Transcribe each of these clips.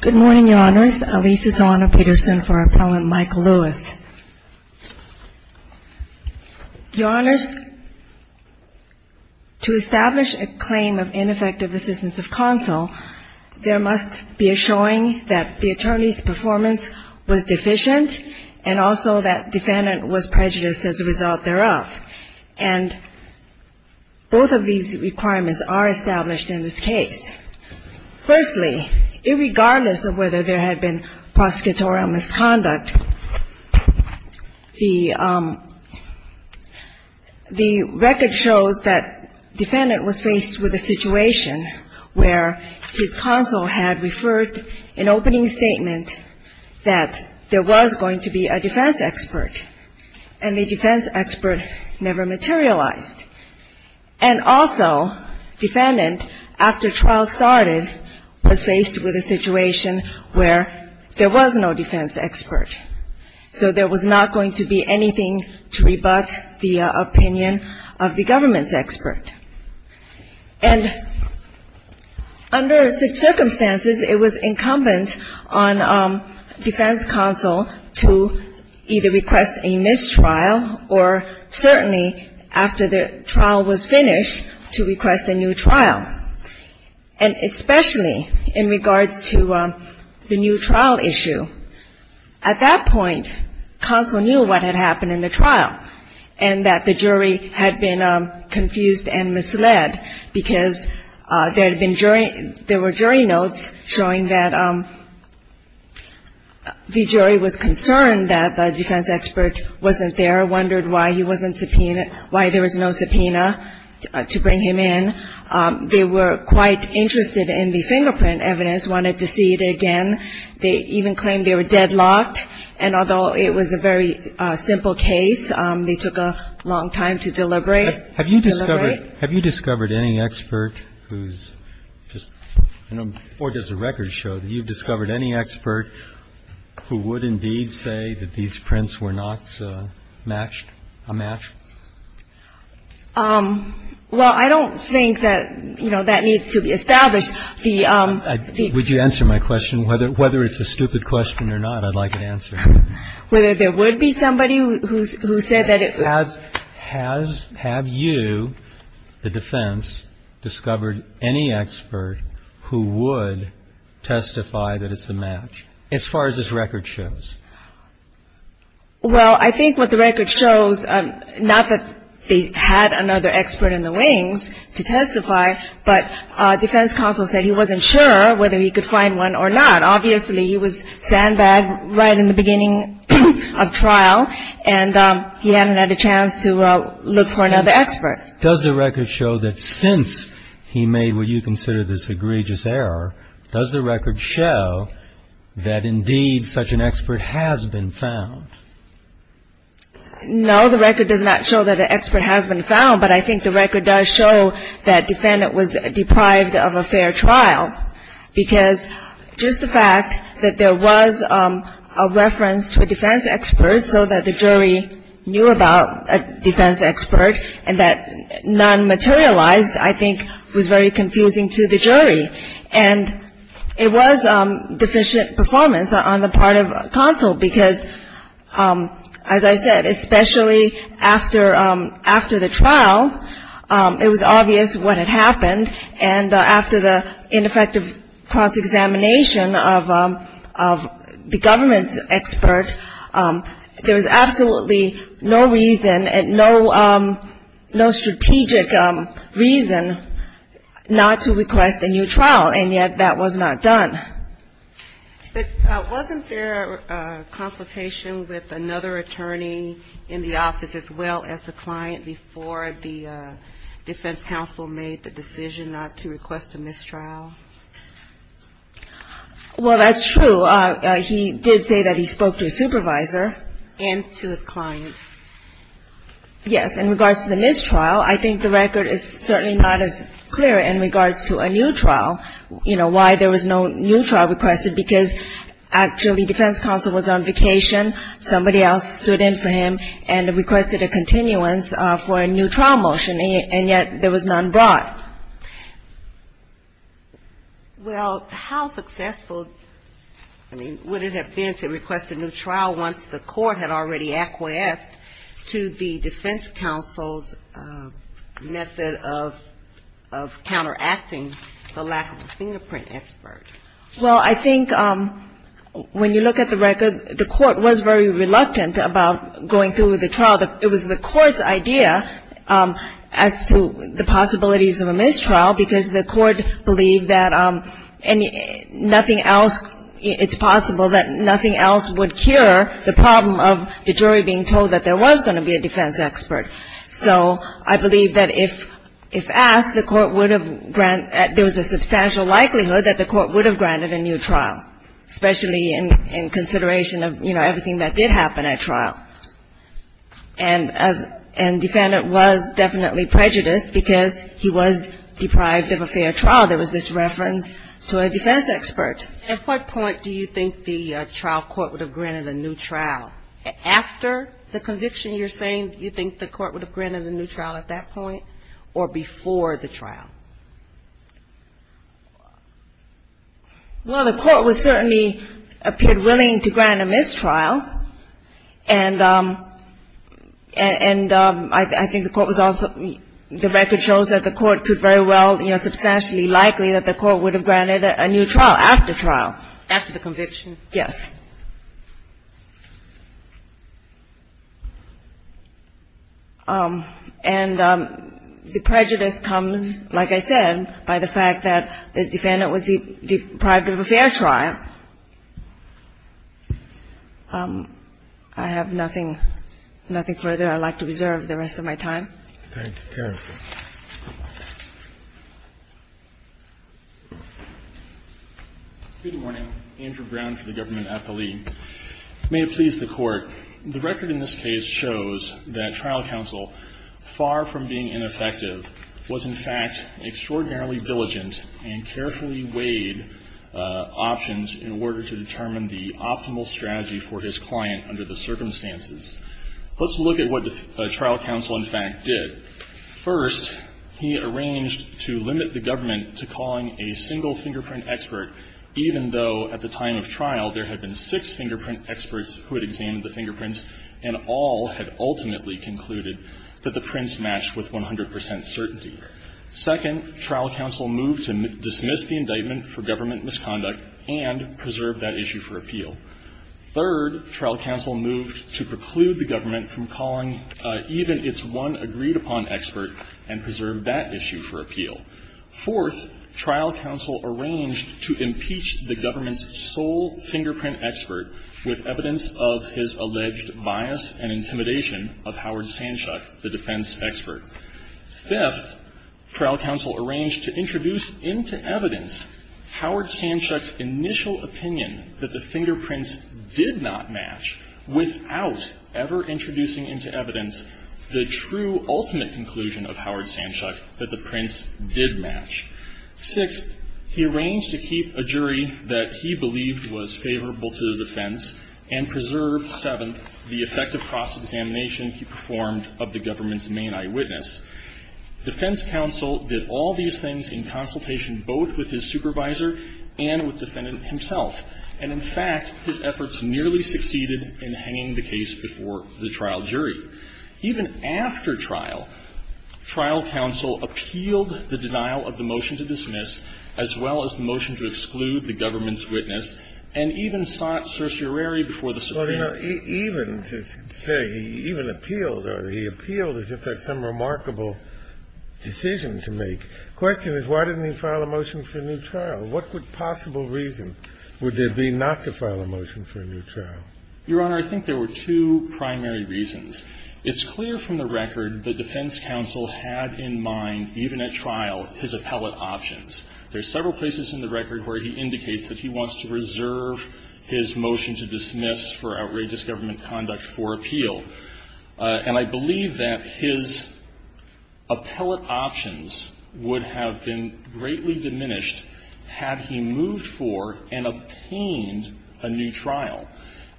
Good morning, Your Honors. Alisa Solano-Peterson for Appellant Michael Lewis. Your Honors, to establish a claim of ineffective assistance of counsel, there must be a showing that the attorney's performance was deficient and also that defendant was prejudiced as a result thereof. And both of these requirements are established in this case. Firstly, irregardless of whether there had been prosecutorial misconduct, the record shows that defendant was faced with a situation where his counsel had referred an opening statement that there was going to be a defense expert and the defense expert never materialized. And also, defendant, after trial started, was faced with a situation where there was no defense expert. So there was not going to be anything to rebut the opinion of the government's expert. And under such circumstances, it was incumbent on defense counsel to either request a mistrial or certainly, after the trial was finished, to request a new trial. And especially in regards to the new trial issue, at that point, counsel knew what had happened in the trial and that the jury had been confused and misled because there had been jury ‑‑ there were jury notes showing that the jury was concerned that the defense expert wasn't there, wondered why he wasn't subpoenaed, why there was no subpoena to bring him in. They were quite interested in the fingerprint evidence, wanted to see it again. They even claimed they were deadlocked. And although it was a very simple case, they took a long time to deliberate. Deliberate. Thank you. All right. Have you discovered any expert who's just ‑‑ or does the record show that you've discovered any expert who would indeed say that these prints were not matched, a match? Well, I don't think that, you know, that needs to be established. Would you answer my question? Whether it's a stupid question or not, I'd like an answer. Whether there would be somebody who said that it was. Have you, the defense, discovered any expert who would testify that it's a match, as far as this record shows? Well, I think what the record shows, not that they had another expert in the wings to testify, but defense counsel said he wasn't sure whether he could find one or not. Obviously, he was sandbagged right in the beginning of trial, and he hadn't had a chance to look for another expert. Does the record show that since he made what you consider this egregious error, does the record show that, indeed, such an expert has been found? No, the record does not show that an expert has been found, but I think the record does show that defendant was deprived of a fair trial, because just the fact that there was a reference to a defense expert so that the jury knew about a defense expert and that none materialized, I think, was very confusing to the jury. And it was deficient performance on the part of counsel, because, as I said, especially after the trial, it was obvious what had happened, and after the ineffective cross-examination of the government's expert, there was absolutely no reason and no strategic reason not to request a new trial, and yet that was not done. But wasn't there a consultation with another attorney in the office as well as the client before the defense counsel made the decision not to request a mistrial? Well, that's true. He did say that he spoke to his supervisor. And to his client. Yes. In regards to the mistrial, I think the record is certainly not as clear in regards to a new trial, you know, why there was no new trial requested, because actually defense counsel was on vacation, somebody else stood in for him and requested a continuance for a new trial motion, and yet there was none brought. Well, how successful, I mean, would it have been to request a new trial once the court had already acquiesced to the defense counsel's method of counteracting the lack of a fingerprint expert? Well, I think when you look at the record, the court was very reluctant about going through with the trial. It was the court's idea as to the possibilities of a mistrial, because the court believed that nothing else, it's possible that nothing else would cure the problem of the jury being told that there was going to be a defense expert. So I believe that if asked, the court would have granted, there was a substantial likelihood that the court would have granted a new trial, especially in consideration of, you know, everything that did happen at trial. And defendant was definitely prejudiced because he was deprived of a fair trial. There was this reference to a defense expert. At what point do you think the trial court would have granted a new trial? After the conviction you're saying, do you think the court would have granted a new trial at that point or before the trial? Well, the court was certainly, appeared willing to grant a mistrial. And I think the court was also, the record shows that the court could very well, you know, substantially likely that the court would have granted a new trial after trial. After the conviction? Yes. And the prejudice comes, like I said, by the fact that the defendant was deprived of a fair trial. I have nothing, nothing further I'd like to reserve the rest of my time. Thank you. Your Honor. Good morning. Andrew Brown for the Government Appealee. May it please the Court. The record in this case shows that trial counsel, far from being ineffective, was in fact extraordinarily diligent and carefully weighed options in order to determine the optimal strategy for his client under the circumstances. Let's look at what the trial counsel in fact did. First, he arranged to limit the government to calling a single fingerprint expert, even though at the time of trial there had been six fingerprint experts who had examined the fingerprints and all had ultimately concluded that the prints matched with 100 percent certainty. Second, trial counsel moved to dismiss the indictment for government misconduct and preserve that issue for appeal. Third, trial counsel moved to preclude the government from calling even its one agreed-upon expert and preserve that issue for appeal. Fourth, trial counsel arranged to impeach the government's sole fingerprint expert with evidence of his alleged bias and intimidation of Howard Sanchuk, the defense expert. Fifth, trial counsel arranged to introduce into evidence Howard Sanchuk's initial opinion that the fingerprints did not match without ever introducing into evidence the true ultimate conclusion of Howard Sanchuk that the prints did match. Sixth, he arranged to keep a jury that he believed was favorable to the defense and preserve, seventh, the effective cross-examination he performed of the government's main eyewitness. Defense counsel did all these things in consultation both with his supervisor and with defendant himself. And, in fact, his efforts nearly succeeded in hanging the case before the trial jury. Even after trial, trial counsel appealed the denial of the motion to dismiss as well as the motion to exclude the government's witness and even sought certiorari before the Supreme Court. Kennedy. Even to say he even appealed or he appealed as if that's some remarkable decision to make. The question is, why didn't he file a motion for a new trial? What possible reason would there be not to file a motion for a new trial? Your Honor, I think there were two primary reasons. It's clear from the record that defense counsel had in mind, even at trial, his appellate options. There are several places in the record where he indicates that he wants to reserve his motion to dismiss for outrageous government conduct for appeal. And I believe that his appellate options would have been greatly diminished had he moved for and obtained a new trial.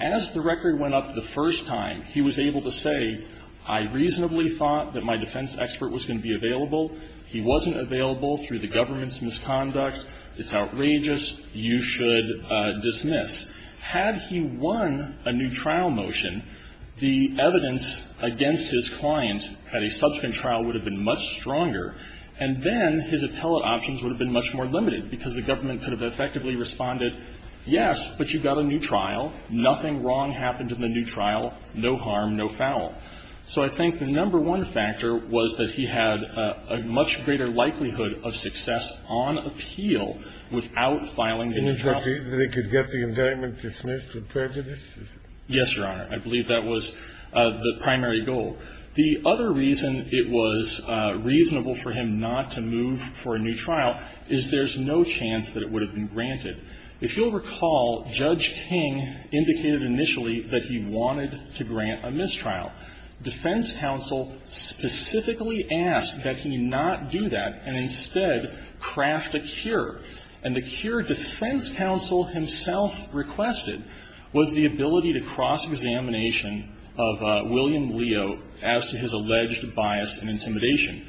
As the record went up the first time, he was able to say, I reasonably thought that my defense expert was going to be available. He wasn't available through the government's misconduct. It's outrageous. You should dismiss. Had he won a new trial motion, the evidence against his client at a subsequent trial would have been much stronger, and then his appellate options would have been much more limited because the government could have effectively responded, yes, but you got a new trial, nothing wrong happened in the new trial, no harm, no foul. So I think the number one factor was that he had a much greater likelihood of success on appeal without filing a new trial. And he could get the indictment dismissed with prejudice? Yes, Your Honor. I believe that was the primary goal. The other reason it was reasonable for him not to move for a new trial is there's no chance that it would have been granted. If you'll recall, Judge King indicated initially that he wanted to grant a mistrial. Defense counsel specifically asked that he not do that and instead craft a cure. And the cure defense counsel himself requested was the ability to cross-examination of William Leo as to his alleged bias and intimidation.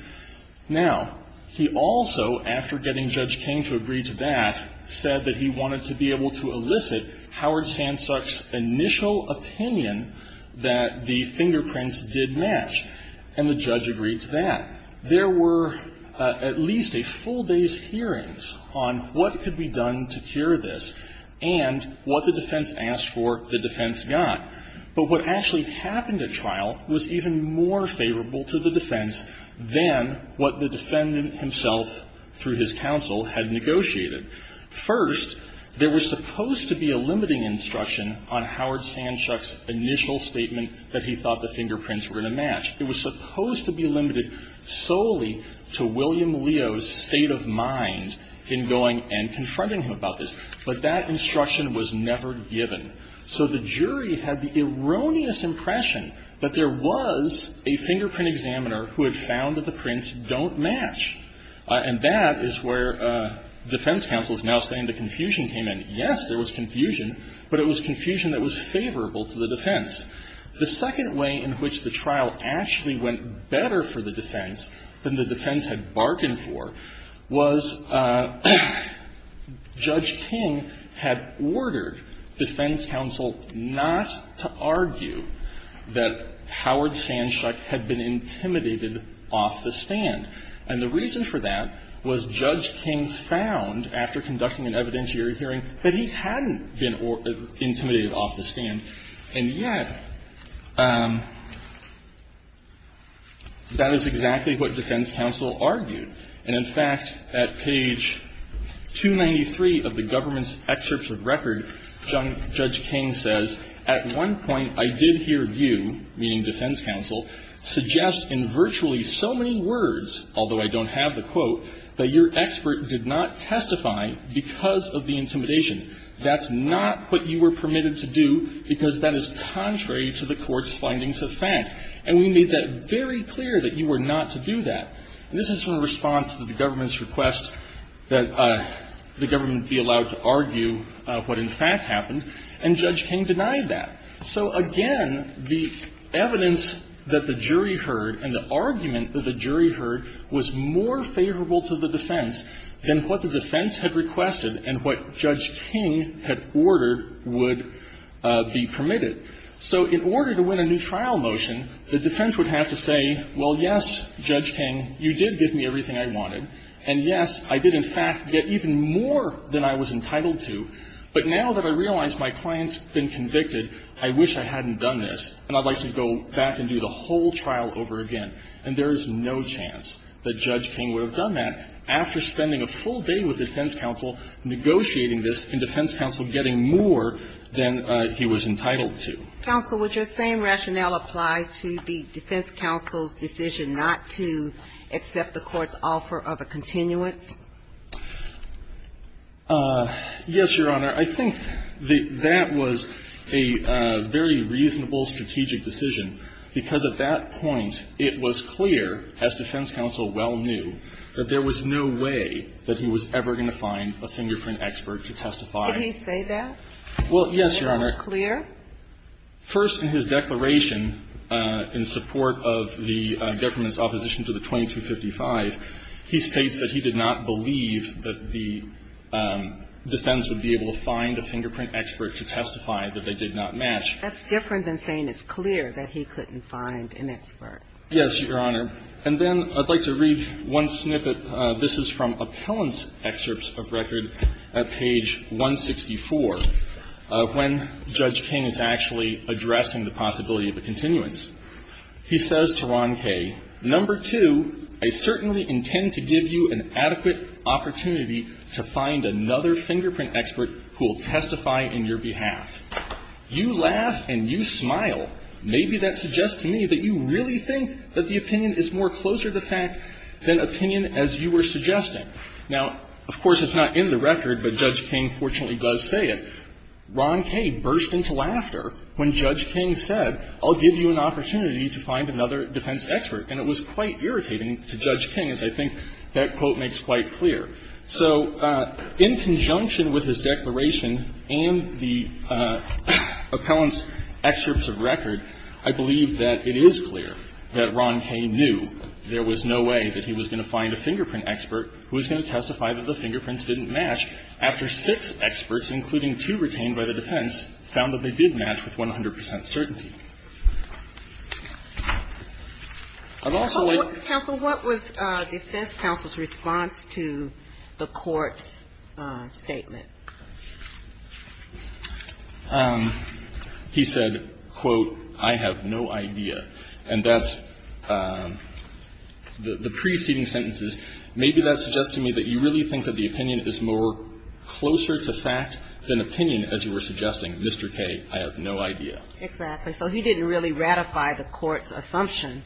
Now, he also, after getting Judge King to agree to that, said that he wanted to be able to elicit Howard Sandsuk's initial opinion that the fingerprints did match. And the judge agreed to that. There were at least a full day's hearings on what could be done to cure this and what the defense asked for the defense got. But what actually happened at trial was even more favorable to the defense than what the defendant himself, through his counsel, had negotiated. First, there was supposed to be a limiting instruction on Howard Sandsuk's initial statement that he thought the fingerprints were going to match. It was supposed to be limited solely to William Leo's state of mind in going and confronting him about this. But that instruction was never given. So the jury had the erroneous impression that there was a fingerprint examiner who had found that the prints don't match. And that is where defense counsel is now saying the confusion came in. Yes, there was confusion, but it was confusion that was favorable to the defense. The second way in which the trial actually went better for the defense than the defense had bargained for was Judge King had ordered defense counsel not to argue that Howard Sandsuk had been intimidated off the stand. And the reason for that was Judge King found, after conducting an evidentiary hearing, that he hadn't been intimidated off the stand. And yet, that is exactly what defense counsel argued. And in fact, at page 293 of the government's excerpts of record, Judge King says, And this is from a response to the government's request that the government be allowed to argue what, in fact, happened. So again, the evidence that the jury heard and the argument that the jury heard was more favorable to the defense than what the defense had requested and what Judge King had ordered would be permitted. So in order to win a new trial motion, the defense would have to say, well, yes, Judge King, you did give me everything I wanted. And yes, I did, in fact, get even more than I was entitled to. But now that I realize my client's been convicted, I wish I hadn't done this, and I'd like to go back and do the whole trial over again. And there is no chance that Judge King would have done that after spending a full day with defense counsel, negotiating this, and defense counsel getting more than he was entitled to. Counsel, would your same rationale apply to the defense counsel's decision not to accept the Court's offer of a continuance? Yes, Your Honor. I think that that was a very reasonable strategic decision, because at that point, it was clear, as defense counsel well knew, that there was no way that he was ever going to find a fingerprint expert to testify. Did he say that? Well, yes, Your Honor. Was it clear? First, in his declaration in support of the government's opposition to the 2255, he states that he did not believe that the defense would be able to find a fingerprint expert to testify that they did not match. That's different than saying it's clear that he couldn't find an expert. Yes, Your Honor. And then I'd like to read one snippet. This is from appellant's excerpts of record at page 164, when Judge King is actually addressing the possibility of a continuance. He says to Ron Kaye, Now, of course, it's not in the record, but Judge King fortunately does say it. Ron Kaye burst into laughter when Judge King said, I'll give you an opportunity to find another defense expert. And it was quite irritating to Judge King, as I think that quote makes quite clear. So in conjunction with his declaration and the appellant's excerpts of record, I believe that it is clear that Ron Kaye knew there was no way that he was going to find a fingerprint expert who was going to testify that the fingerprints didn't match after six experts, including two retained by the defense, found that they did match with 100 percent certainty. I'd also like to. Counsel, what was defense counsel's response to the Court's statement? He said, quote, I have no idea. And that's the preceding sentences. Maybe that's suggesting to me that you really think that the opinion is more closer to fact than opinion, as you were suggesting. Mr. Kaye, I have no idea. Exactly. So he didn't really ratify the Court's assumption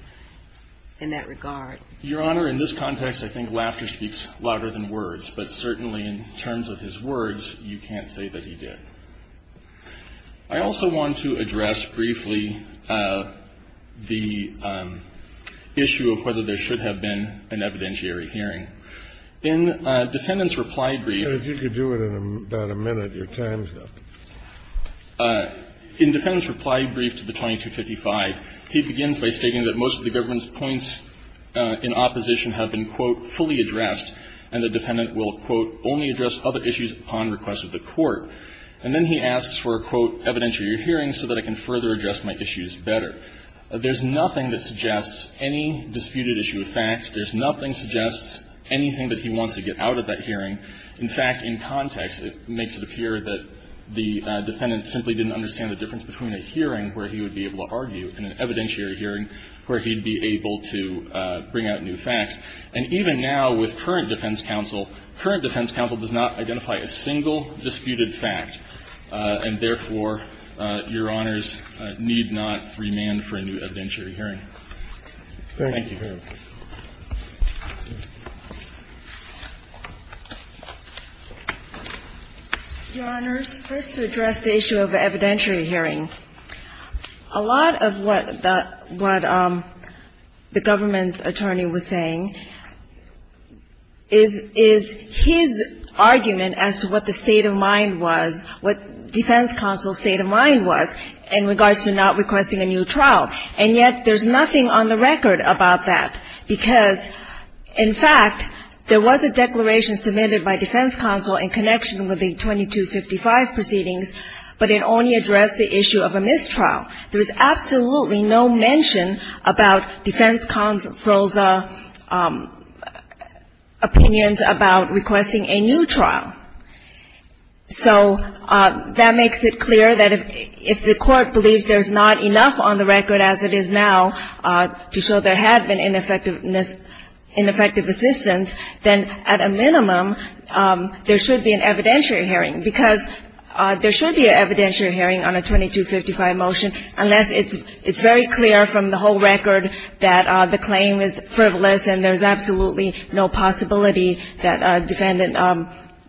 in that regard. Your Honor, in this context, I think laughter speaks louder than words. But certainly in terms of his words, you can't say that he did. I also want to address briefly the issue of whether there should have been an evidentiary hearing. In defendant's reply brief. Kennedy, if you could do it in about a minute, your time's up. In defendant's reply brief to the 2255, he begins by stating that most of the government's points in opposition have been, quote, fully addressed, and the defendant will, quote, only address other issues upon request of the Court. And then he asks for a, quote, evidentiary hearing so that I can further address my issues better. There's nothing that suggests any disputed issue of fact. There's nothing suggests anything that he wants to get out of that hearing. In fact, in context, it makes it appear that the defendant simply didn't understand the difference between a hearing where he would be able to argue and an evidentiary hearing where he'd be able to bring out new facts. And even now with current defense counsel, current defense counsel does not identify a single disputed fact, and therefore, Your Honors, need not remand for a new evidentiary hearing. Thank you. Ginsburg. Your Honors, first to address the issue of evidentiary hearing, a lot of what the government's attorney was saying is his argument as to what the state of mind was, what defense counsel's state of mind was in regards to not requesting a new trial, and yet there's no mention of that because, in fact, there was a declaration submitted by defense counsel in connection with the 2255 proceedings, but it only addressed the issue of a mistrial. There's absolutely no mention about defense counsel's opinions about requesting a new trial. So that makes it clear that if the Court believes there's not enough on the record as it is now to show there had been ineffective assistance, then at a minimum, there should be an evidentiary hearing, because there should be an evidentiary hearing on a 2255 motion unless it's very clear from the whole record that the claim is frivolous and there's absolutely no possibility that a defendant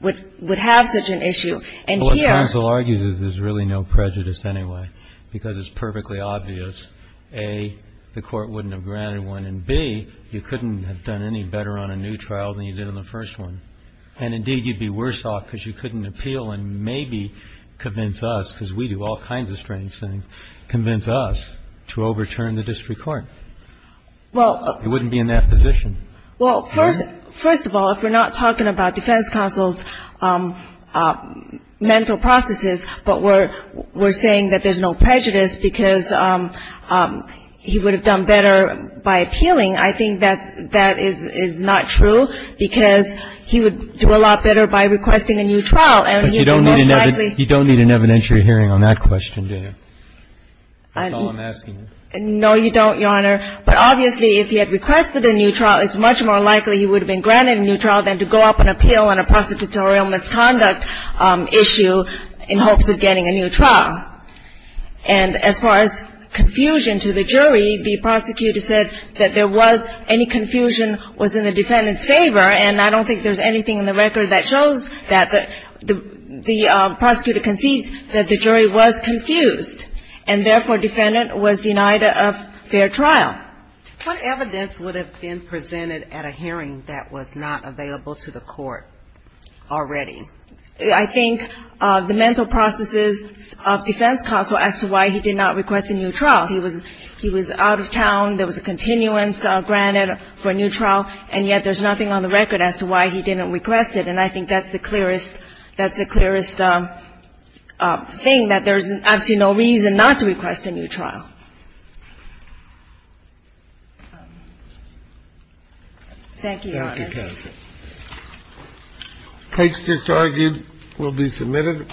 would have such an issue. And here ---- Well, what counsel argues is there's really no prejudice anyway, because it's perfectly obvious, A, the Court wouldn't have granted one, and, B, you couldn't have done any better on a new trial than you did on the first one. And, indeed, you'd be worse off because you couldn't appeal and maybe convince us, because we do all kinds of strange things, convince us to overturn the district It wouldn't be in that position. Well, first of all, if we're not talking about defense counsel's mental processes, but we're saying that there's no prejudice because he would have done better by appealing, I think that that is not true, because he would do a lot better by requesting a new trial. But you don't need an evidentiary hearing on that question, do you? That's all I'm asking. No, you don't, Your Honor. But obviously if he had requested a new trial, it's much more likely he would have been granted a new trial than to go up and appeal on a prosecutorial misconduct issue in hopes of getting a new trial. And as far as confusion to the jury, the prosecutor said that there was any confusion was in the defendant's favor, and I don't think there's anything in the record that shows that the prosecutor concedes that the jury was confused, and therefore the defendant was denied a fair trial. What evidence would have been presented at a hearing that was not available to the court already? I think the mental processes of defense counsel as to why he did not request a new trial. He was out of town, there was a continuance granted for a new trial, and yet there's nothing on the record as to why he didn't request it. And I think that's the clearest thing, that there's absolutely no reason not to request a new trial. Thank you, Your Honor. Thank you, counsel. Case disargued will be submitted.